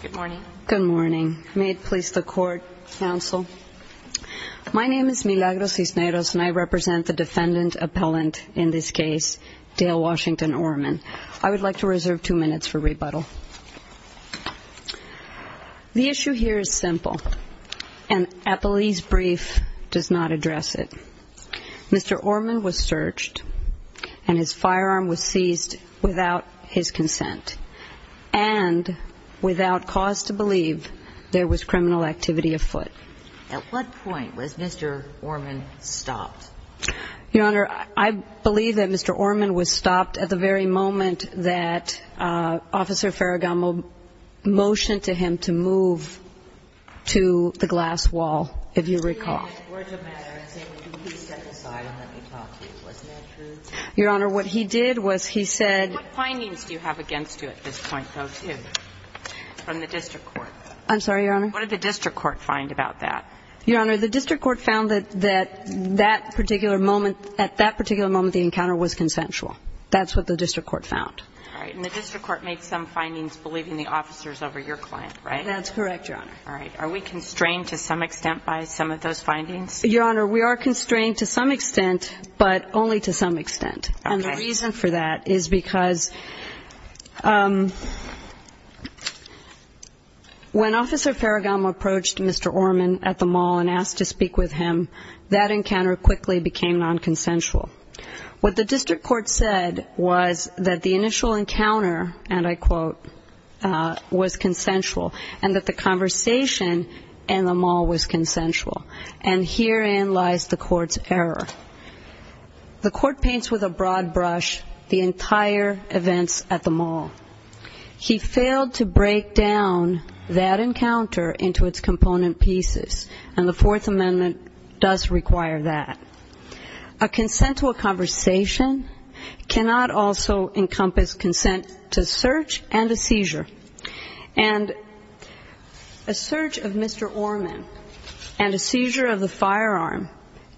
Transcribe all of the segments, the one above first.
Good morning. May it please the court, counsel. My name is Milagro Cisneros and I represent the defendant appellant in this case, Dale Washington Orman. I would like to reserve two minutes for rebuttal. The issue here is simple and a police brief does not address it. Mr. Orman was searched and his firearm was seized without his consent and without cause to believe there was criminal activity afoot. At what point was Mr. Orman stopped? Your Honor, I believe that Mr. Orman was stopped at the very moment that Officer Farragamo motioned to him to move to the glass wall, if you recall. Your Honor, what he did was he said What findings do you have against you at this point, though, too, from the district court? I'm sorry, Your Honor. What did the district court find about that? Your Honor, the district court found that that particular moment, at that particular moment, the encounter was consensual. That's what the district court found. All right. And the district court made some findings believing the officers over your client, right? That's correct, Your Honor. All right. Are we constrained to some extent by some of those findings? Your Honor, we are constrained to some extent, but only to some extent. Okay. And the reason for that is because when Officer Farragamo approached Mr. Orman at the mall and asked to speak with him, that encounter quickly became nonconsensual. What the district court said was that the initial encounter, and I quote, was consensual and that the conversation in the mall was consensual. And herein lies the court's error. The court paints with a broad brush the entire events at the mall. He failed to break down that encounter into its component pieces, and the Fourth Amendment does require that. A consent to a conversation cannot also encompass consent to search and a seizure. And a search of Mr. Orman and a seizure of the firearm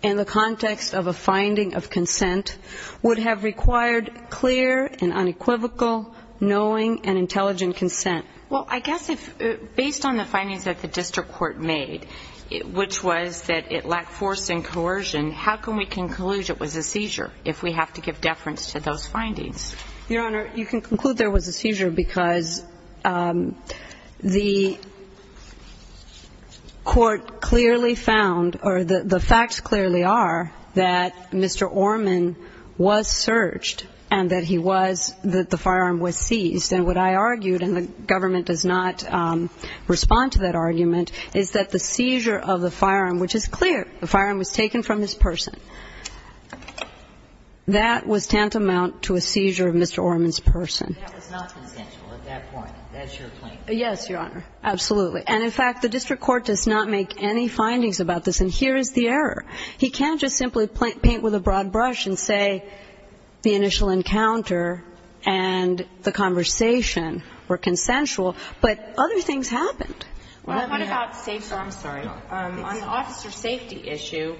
in the context of a finding of consent would have required clear and unequivocal knowing and intelligent consent. Well, I guess if, based on the findings that the district court made, which was that it was a seizure, if we have to give deference to those findings. Your Honor, you can conclude there was a seizure because the court clearly found, or the facts clearly are, that Mr. Orman was searched and that he was, that the firearm was seized. And what I argued, and the government does not respond to that argument, is that the district court did not make any findings about the seizure of Mr. Orman's person. That was tantamount to a seizure of Mr. Orman's person. That was not consensual at that point. That's your point. Yes, Your Honor. Absolutely. And, in fact, the district court does not make any findings about this. And here is the error. He can't just simply paint with a broad brush and say the initial encounter and the conversation were consensual, but other things happened. Well, what about safety? I'm sorry. On the officer safety issue,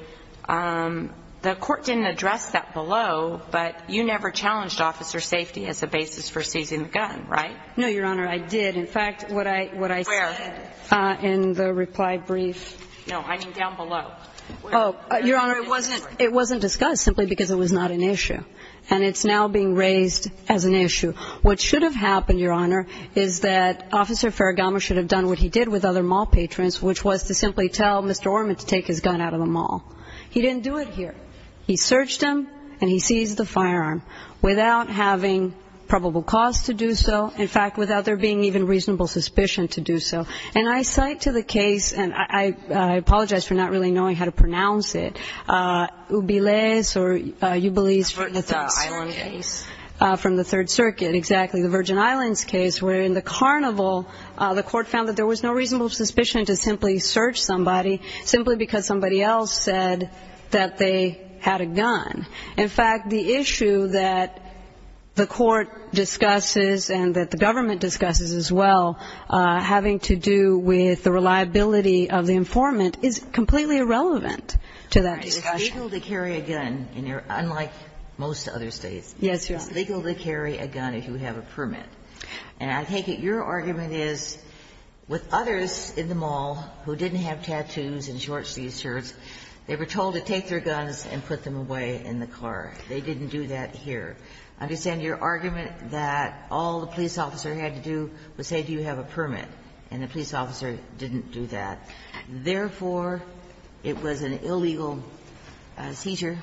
the court didn't address that below, but you never challenged officer safety as a basis for seizing the gun, right? No, Your Honor, I did. In fact, what I said in the reply brief. Where? No, I mean down below. Oh, Your Honor, it wasn't discussed simply because it was not an issue. And it's now being raised as an issue. What should have happened, Your Honor, is that Officer Ferragamo should have done what he did with other mall patrons, which was to simply tell Mr. Orman to take his gun out of the mall. He didn't do it here. He searched him and he seized the firearm without having probable cause to do so. In fact, without there being even reasonable suspicion to do so. And I cite to the case, and I apologize for not really knowing how to pronounce it, Ubilese or Ubilese from the Third Circuit, exactly, the Virgin Islands case, where in the carnival the court found that there was no reasonable suspicion to simply search somebody, simply because somebody else said that they had a gun. In fact, the issue that the court discusses and that the government discusses as well, having to do with the reliability of the informant, is completely irrelevant to that discussion. It's legal to carry a gun, unlike most other states. Yes, Your Honor. It's legal to carry a gun if you have a permit. And I take it your argument is, with others in the mall who didn't have tattoos and short-sleeved shirts, they were told to take their guns and put them away in the car. They didn't do that here. I understand your argument that all the police officer had to do was say, do you have a permit? And the police officer didn't do that. Therefore, it was an illegal seizure?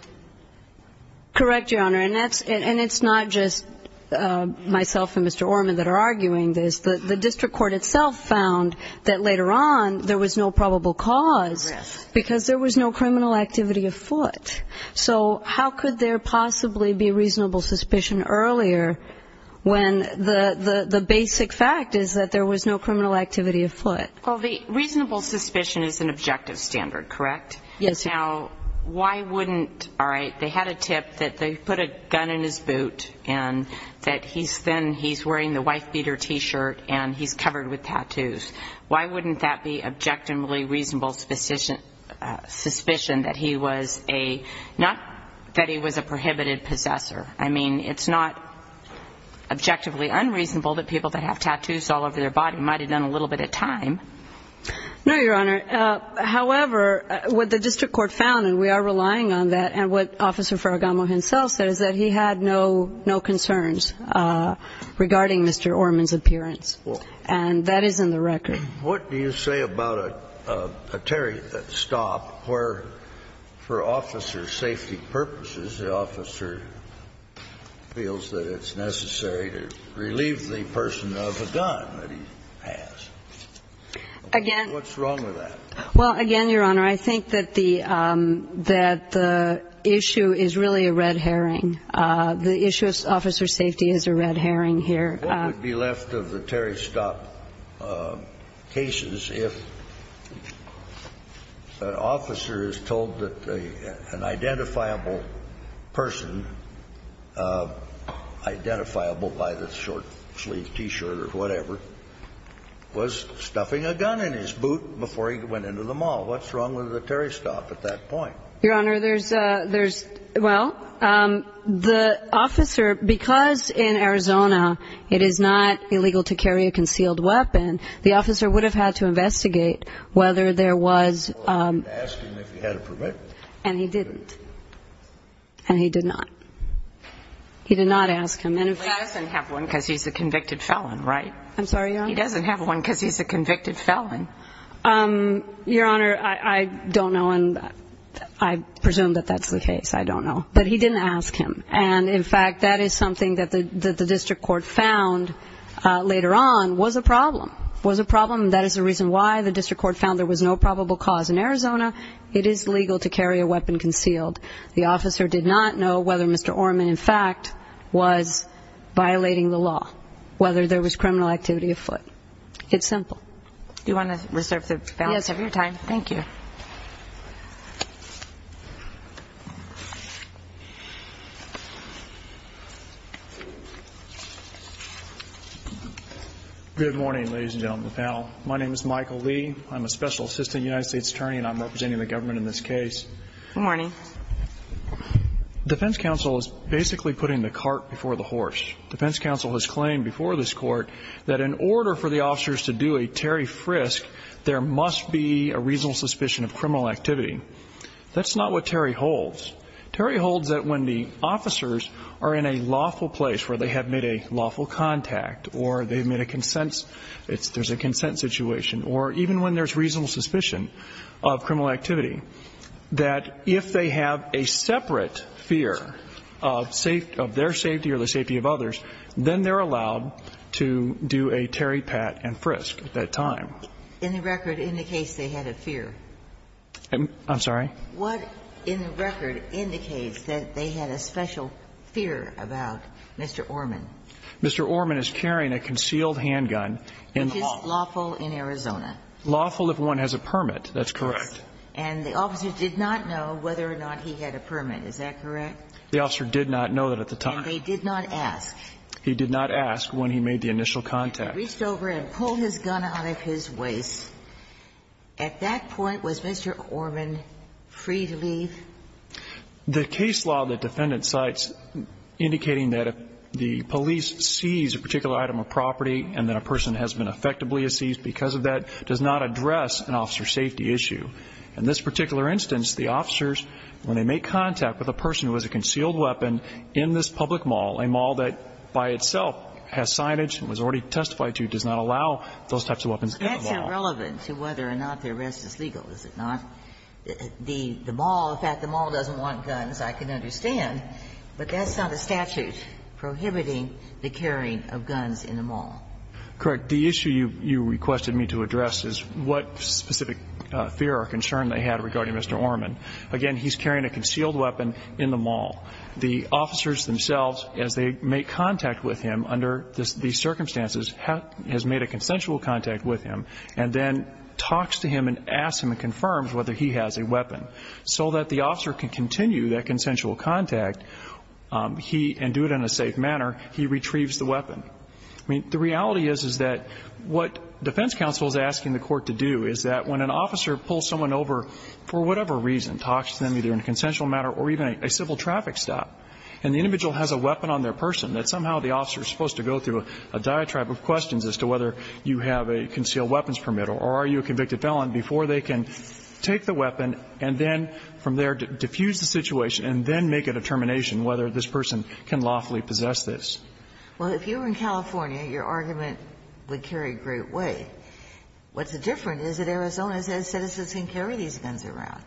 Correct, Your Honor. And it's not just myself and Mr. Orman that are arguing this. The district court itself found that later on there was no probable cause because there was no criminal activity afoot. So how could there possibly be reasonable suspicion earlier when the basic fact is that there was no criminal activity afoot? Well, the reasonable suspicion is an objective standard, correct? Yes, Your Honor. Now, why wouldn't, all right, they had a tip that they put a gun in his boot and that he's then, he's wearing the wife-beater t-shirt and he's covered with tattoos. Why wouldn't that be objectively reasonable suspicion that he was a, not that he was a prohibited possessor? I mean, it's not objectively unreasonable that people that have tattoos all over their body might have done a little bit of time. No, Your Honor. However, what the district court found, and we are relying on that, and what Officer Faragamo himself said is that he had no concerns regarding Mr. Orman's appearance. And that is in the record. What do you say about a, a, a stop where, for officer safety purposes, the officer feels that it's necessary to relieve the person of a gun that he has? Again. What's wrong with that? Well, again, Your Honor, I think that the, that the issue is really a red herring. The issue of officer safety is a red herring here. What would be left of the Terry Stop cases if an officer is told that an identifiable person, identifiable by the short-sleeved T-shirt or whatever, was stuffing a gun in his boot before he went into the mall? What's wrong with the Terry Stop at that point? Your Honor, there's a, there's, well, the officer, because in Arizona it is not illegal to carry a concealed weapon, the officer would have had to investigate whether there was... Well, he would have asked him if he had a permit. And he didn't. And he did not. He did not ask him. Well, he doesn't have one because he's a convicted felon, right? I'm sorry, Your Honor? He doesn't have one because he's a convicted felon. Your Honor, I, I don't know, and I presume that that's the case. I don't know. But he didn't ask him. And, in fact, that is something that the, that the district court found later on was a problem. Was a problem. That is the reason why the district court found there was no probable cause in Arizona. It is legal to carry a weapon concealed. The officer did not know whether Mr. Orman, in fact, was violating the law, whether there was criminal activity afoot. It's simple. Do you want to reserve the balance of your time? Yes. Thank you. Good morning, ladies and gentlemen of the panel. My name is Michael Lee. I'm a special assistant United States attorney and I'm representing the government in this case. Good morning. Defense counsel is basically putting the cart before the horse. Defense counsel has claimed before this court that in order for the officers to do a Terry Frisk, there must be a reasonable suspicion of criminal activity. That's not what Terry holds. Terry holds that when the officers are in a lawful place where they have made a lawful contact or they've made a consent, there's a consent situation, or even when there's reasonable suspicion of criminal activity, that if they have a separate fear of their safety or the safety of others, then they're allowed to do a Terry Pat and Frisk at that time. And the record indicates they had a fear. I'm sorry? What in the record indicates that they had a special fear about Mr. Orman? Lawful in Arizona. Lawful if one has a permit. That's correct. And the officer did not know whether or not he had a permit. Is that correct? The officer did not know that at the time. And they did not ask. He did not ask when he made the initial contact. Reached over and pulled his gun out of his waist. At that point, was Mr. Orman free to leave? The case law the defendant cites indicating that the police seize a particular item of property and that a person has been effectively seized because of that does not address an officer safety issue. In this particular instance, the officers, when they make contact with a person who has a concealed weapon in this public mall, a mall that by itself has signage and was already testified to, does not allow those types of weapons in the mall. That's irrelevant to whether or not the arrest is legal, is it not? The mall, the fact the mall doesn't want guns, I can understand, but that's not a statute prohibiting the carrying of guns in the mall. Correct. The issue you requested me to address is what specific fear or concern they had regarding Mr. Orman. Again, he's carrying a concealed weapon in the mall. The officers themselves, as they make contact with him under these circumstances, has made a consensual contact with him so that the officer can continue that consensual contact and do it in a safe manner, he retrieves the weapon. The reality is that what defense counsel is asking the court to do is that when an officer pulls someone over for whatever reason, talks to them either in a consensual manner or even a civil traffic stop, and the individual has a weapon on their person, that somehow the officer is supposed to go through a diatribe of questions as to whether you have a concealed weapons permit or are you a convicted felon before they can take the weapon and then from there diffuse the situation and then make a determination whether this person can lawfully possess this. Well, if you were in California, your argument would carry a great weight. What's different is that Arizona says citizens can carry these guns around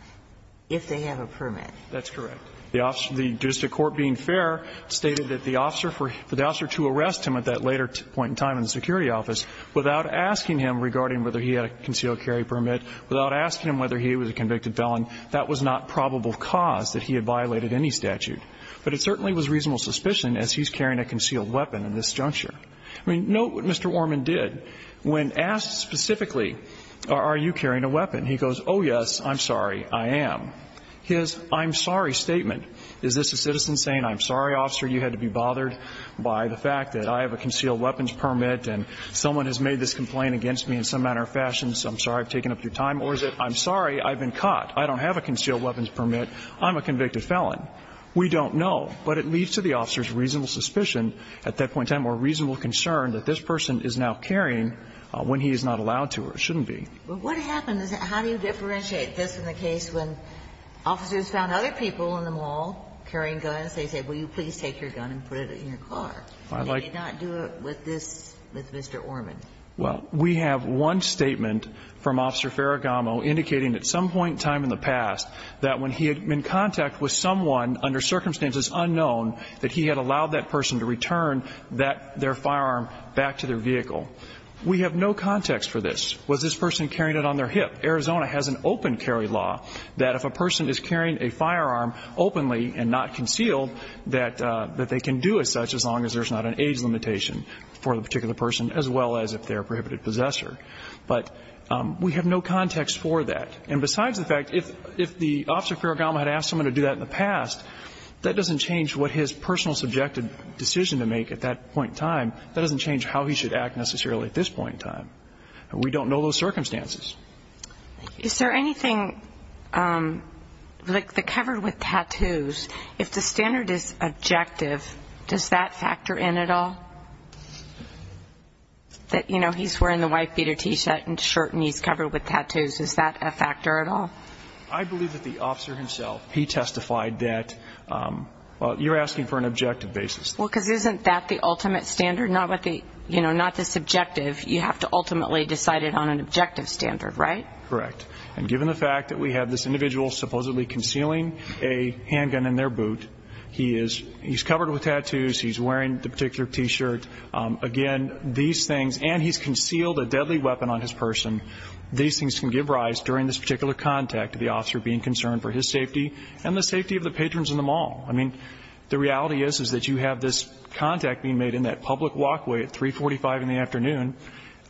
if they have a permit. That's correct. The district court, being fair, stated that the officer, for the officer to arrest him at that later point in time in the security office without asking him regarding whether he had a concealed carry permit, without asking him whether he was a convicted felon, that was not probable cause that he had violated any statute. But it certainly was reasonable suspicion as he's carrying a concealed weapon in this juncture. I mean, note what Mr. Orman did. When asked specifically, are you carrying a weapon, he goes, oh, yes, I'm sorry, I am. His I'm sorry statement, is this a citizen saying, I'm sorry, officer, you had to be bothered by the fact that I have a concealed weapons permit and someone has made this complaint against me in some manner or fashion, so I'm sorry I've taken up your time, or is it, I'm sorry, I've been caught, I don't have a concealed weapons permit, I'm a convicted felon? We don't know. But it leads to the officer's reasonable suspicion at that point in time or reasonable concern that this person is now carrying when he is not allowed to or shouldn't be. But what happens, how do you differentiate this from the case when officers found other people in the mall carrying guns, they say, will you please take your gun and put it in your car? They did not do it with this, with Mr. Orman. Well, we have one statement from Officer Ferragamo indicating at some point in time in the past that when he had been in contact with someone under circumstances unknown that he had allowed that person to return their firearm back to their vehicle. We have no context for this. Was this person carrying it on their hip? Arizona has an open carry law that if a person is carrying a firearm openly and not concealed that they can do as such as long as there's not an age limitation for the particular person as well as if they're a prohibited possessor. But we have no context for that. And besides the fact if the Officer Ferragamo had asked someone to do that in the past that doesn't change what his personal subjective decision to make at that point in time. That doesn't change how he should act necessarily at this point in time. We don't know those circumstances. Is there anything, like the covered with tattoos, if the standard is objective, does that factor in at all? That, you know, he's wearing the white beater t-shirt and shirt and he's covered with tattoos, is that a factor at all? I believe that the Officer himself, he testified that you're asking for an objective basis. Well, because isn't that the ultimate standard? Not the subjective. You have to ultimately decide it on an objective standard, right? Correct. And given the fact that we have this individual supposedly concealing a handgun in their boot, he's covered with tattoos, he's wearing the particular t-shirt, again, these things, and he's concealed a deadly weapon on his person, these things can give rise during this particular contact to the Officer being concerned for his safety and the safety of the patrons in the mall. I mean, the reality is that you have this contact being made in that public walkway at 345 in the afternoon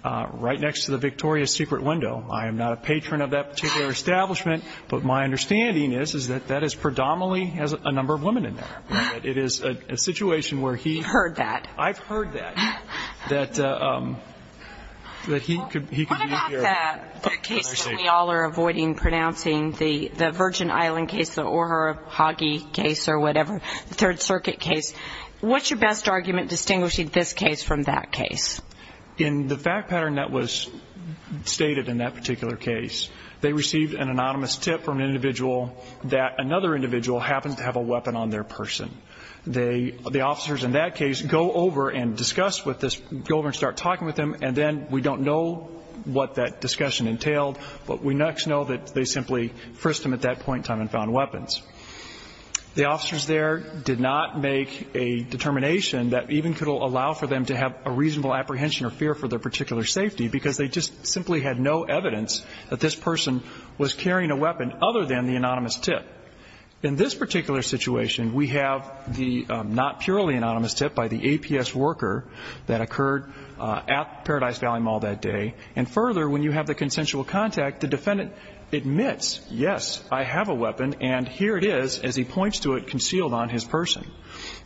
right next to the Victoria's Secret window. I am not a patron of that particular establishment, but my understanding is that that is predominantly a number of women in there. It is a situation where he... You've heard that. I've heard that. That he could be here... What about that case that we all are avoiding pronouncing, the Virgin Island case, the Ohara-Hagee case or whatever, the Third Circuit case? What's your best argument distinguishing this case from that case? In the fact pattern that was stated in that particular case, they received an anonymous tip from an individual that another individual happened to have a weapon on their person. The officers in that case go over and discuss with this... Go over and start talking with them and then we don't know what that discussion entailed, but we next know that they simply frisked him at that point in time and found weapons. The officers there did not make a determination that even could allow for them to have a reasonable apprehension or fear for their particular safety because they just simply had no evidence that this person was carrying a weapon other than the anonymous tip. In this particular situation, we have the not purely anonymous tip by the APS worker that occurred at Paradise Valley Mall that day and further, when you have the consensual contact, the defendant admits, yes, I have a weapon and here it is as he points to it concealed on his person.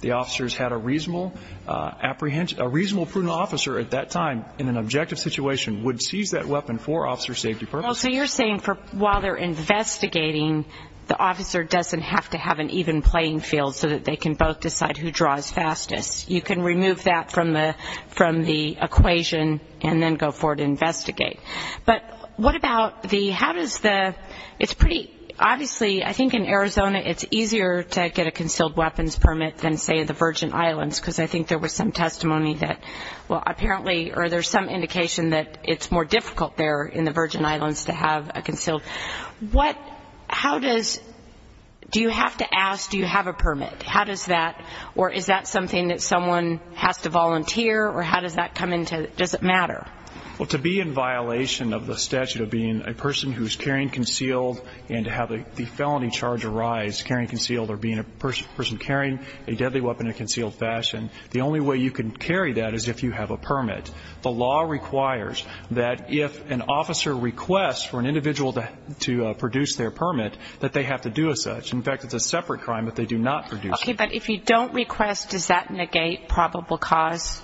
The officers had a reasonable apprehension... A reasonable, prudent officer at that time in an objective situation would seize that weapon for officer safety purposes. So you're saying while they're investigating, the officer doesn't have to have an even playing field so that they can both decide who draws fastest. You can remove that from the equation and then go forward and investigate. But what about the... How does the... It's pretty... Obviously, I think in Arizona it's easier to get a concealed weapons permit than, say, the Virgin Islands because I think there was some testimony that apparently or there's some indication that it's more difficult there in the Virgin Islands to have a concealed. What... How does... Do you have to ask, do you have a permit? How does that... Or is that something that someone has to volunteer or how does that come into... Does it matter? Well, to be in violation of the statute of being a person who's carrying concealed and to have the felony charge arise carrying concealed or being a person carrying a deadly weapon in a concealed fashion, the only way you can carry that is if you have a permit. The law requires that if an officer requests for an individual to produce their permit that they have to do as such. In fact, it's a separate crime if they do not produce it. Okay, but if you don't request, does that negate probable cause?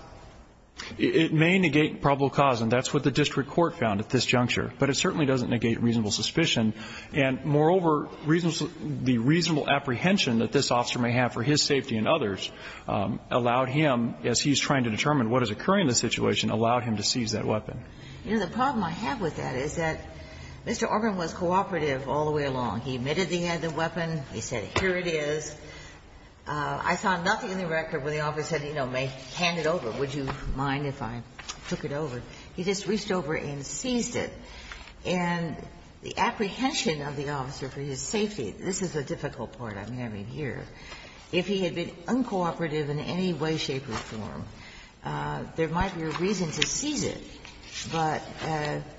It may negate probable cause and that's what the district court found at this juncture, but it certainly doesn't negate reasonable suspicion and moreover, the reasonable apprehension that this officer may have for his safety and others allowed him, as he's trying to determine what is occurring in the situation, allowed him to seize that weapon. You know, the problem I have with that is that Mr. Auburn was cooperative all the way along. He admitted that he had the weapon. He said, here it is. I found nothing in the record where the officer said, you know, may hand it over. Would you mind if I took it over? He just reached over and seized it and the apprehension of the officer for his safety, this is the difficult part I'm having here, if he had been uncooperative in any way, shape, or form, there might be a reason to seize it, but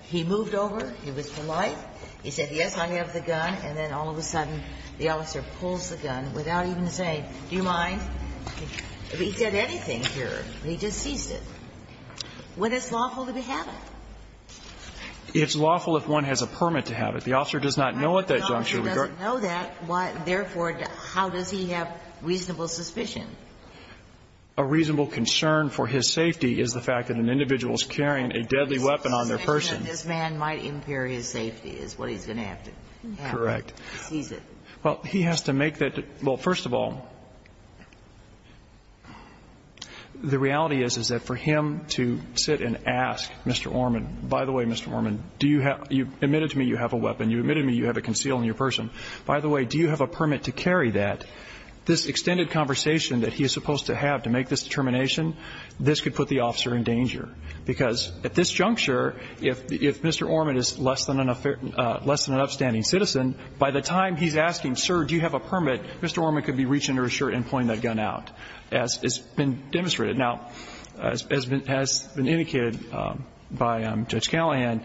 he moved over, he was polite, he said, yes, I have the gun, and then all of a sudden the officer pulls the gun without even saying, do you mind? If he said anything here, he just seized it. Would it's lawful to have it? It's lawful if one has a permit to have it. The officer does not know what that juncture regards. Therefore, how does he have reasonable suspicion? A reasonable concern for his safety is the fact that an individual is carrying a deadly weapon on their person. This man might impair his safety is what he's going to have to have. Correct. Well, he has to make that well, first of all, the reality is that for him to sit and ask, Mr. Orman, by the way, Mr. Orman, you admitted to me you have a weapon, you admitted to me you have a conceal on your person, by the way, do you have a permit to carry that, this extended conversation that he is supposed to have to make this determination, this could put the officer in danger. Because at this juncture, if Mr. Orman is less than an upstanding citizen, by the time he's asking, sir, do you have a permit, Mr. Orman could be reaching under his shirt and pulling that gun out. As has been demonstrated. Now, as has been indicated by Judge Callahan,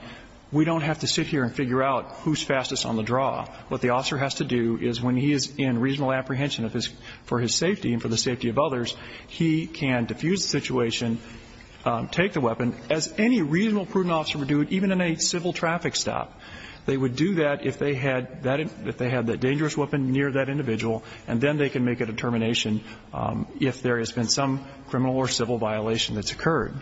we don't have to sit here and figure out who's fastest on the draw. What the officer has to do is when he is in reasonable apprehension for his safety and for the safety of others, he can diffuse the situation, take the weapon, as any reasonable, prudent officer would do, even in a civil traffic stop. They would do that if they had that dangerous weapon near that individual, and then they can make a determination if there has been some criminal or civil violation that's occurred.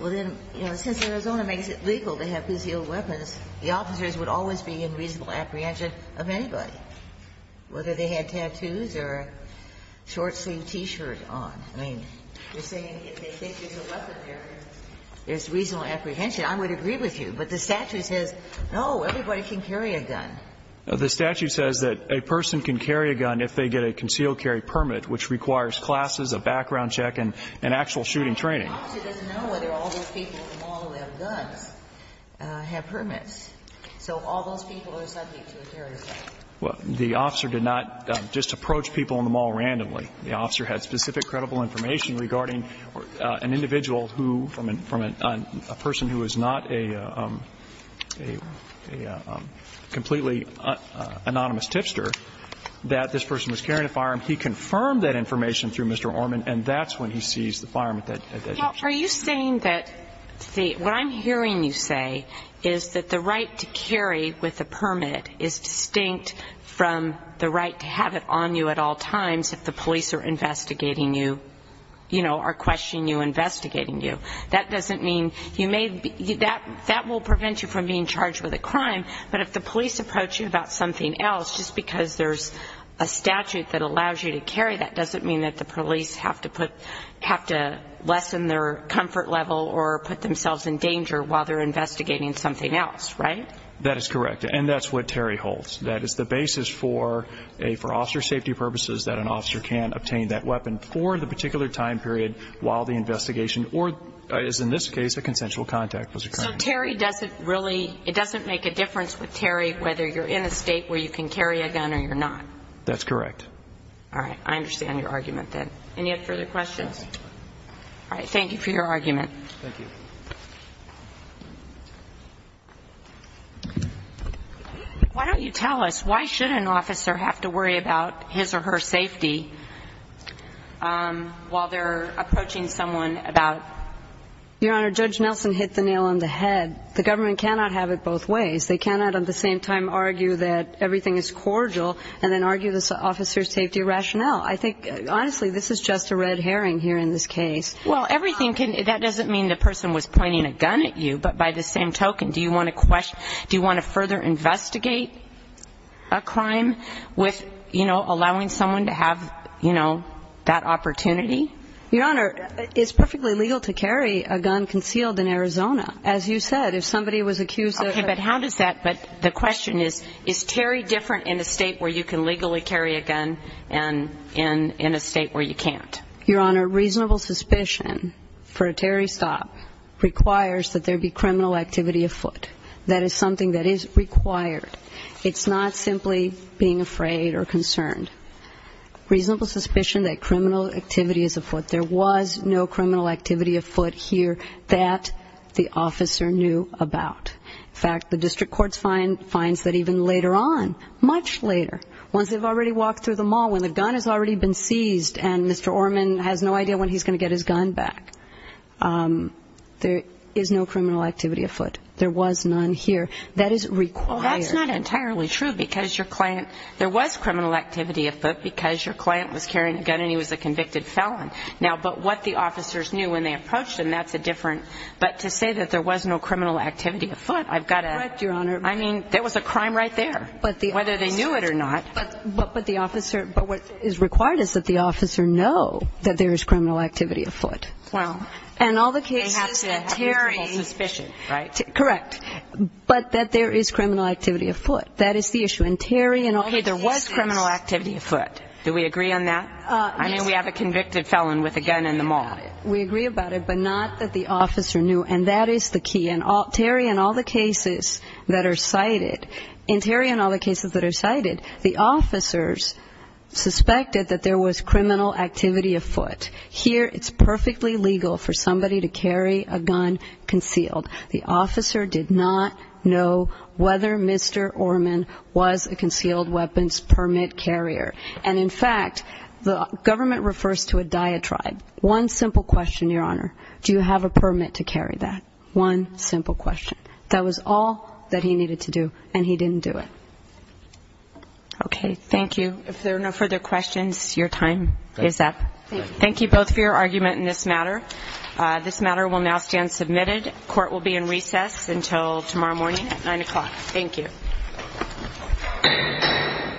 Well, then, since Arizona makes it legal to have concealed weapons, the officers would always be in reasonable apprehension of anybody, whether they had tattoos or a short-sleeved T-shirt on. I mean, you're saying if they think there's a weapon there, there's reasonable apprehension. I would agree with you. can carry a gun. The statute says that a person can carry a gun if they get a concealed carry permit, which requires classes, a background check, and actual shooting training. But the officer doesn't know whether all those people in the mall who have guns have permits. So all those people are subject to a carry permit. The officer did not just approach people in the mall randomly. The officer had specific credible information regarding an individual who, from a person who is not a completely anonymous tipster, that this person was carrying a firearm. He confirmed that information through Mr. Orman, and that's when he sees the firearm. Are you saying that what I'm hearing you say is that the right to carry with a permit is distinct from the right to have it on you at all times if the police are investigating you, you know, are questioning you, investigating you. That doesn't mean you may that will prevent you from being charged with a crime, but if the police approach you about something else, just because there's a statute that allows you to carry, that doesn't mean that the police have to put, have to lessen their comfort level or put themselves in danger while they're investigating something else, right? That is correct. And that's what Terry holds. That is the basis for a, for officer safety purposes, that an officer can obtain that weapon for the particular time period while the investigation, or as in this case, a consensual contact was occurring. So Terry doesn't really, it doesn't make a difference with Terry whether you're in a state where you can carry a gun or you're not. That's correct. Alright, I understand your argument then. Any further questions? Yes. Alright, thank you for your argument. Thank you. Why don't you tell us, why should an officer have to worry about his or her safety while they're approaching someone about Your Honor, Judge Nelson hit the nail on the head. The government cannot have it both ways. They cannot at the same time argue that everything is cordial and then argue this officer's safety rationale. I think, honestly, this is just a red herring here in this case. Well, everything can, that doesn't mean the person was pointing a gun at you, but by the same token, do you want to question, do you want to further investigate a crime with, you know, allowing someone to have, you know, that opportunity? Your Honor, it's perfectly legal to carry a gun concealed in Arizona. As you said, if somebody was accused of Okay, but how does that, but the question is, is Terry different in a state where you can legally carry a gun and in a state where you can't? Your Honor, reasonable suspicion for a Terry stop requires that there be criminal activity afoot. That is something that is required. It's not simply being afraid or concerned. Reasonable suspicion that criminal activity is afoot. There was no criminal activity afoot here that the officer knew about. In fact, the district court finds that even later on, much later, once they've already walked through the mall, when the gun has already been seized and Mr. Orman has no idea when he's going to get his gun back, there is no criminal activity afoot. There was none here. That is required. Well, that's not entirely true because your client, there was criminal activity afoot because your client was carrying a gun and he was a convicted felon. Now, but what the officers knew when they approached them, that's a different, but to say that there was no criminal activity afoot, I've got to I mean, there was a crime right there. Whether they knew it or not. But the officer, but what is required is that the officer know that there is criminal activity afoot. And all the cases that have reasonable suspicion, correct, but that there is criminal activity afoot. That is the issue. And Terry Hey, there was criminal activity afoot. Do we agree on that? I mean, we have a convicted felon with a gun in the mall. We agree about it, but not that the officer knew. And that is the key. And Terry, in all the cases that are cited, and Terry, in all the cases that are cited, the officers suspected that there was criminal activity afoot. Here, it's perfectly legal for somebody to carry a gun concealed. The officer did not know whether Mr. He was a concealed weapons permit carrier. And in fact, the government refers to a diatribe. One simple question, Your Honor. Do you have a permit to carry that? One simple question. That was all that he needed to do, and he didn't do it. Okay, thank you. If there are no further questions, your time is up. Thank you both for your argument in this matter. This matter will now stand submitted. Court will be in recess until tomorrow morning at 9 o'clock. Thank you. Thank you.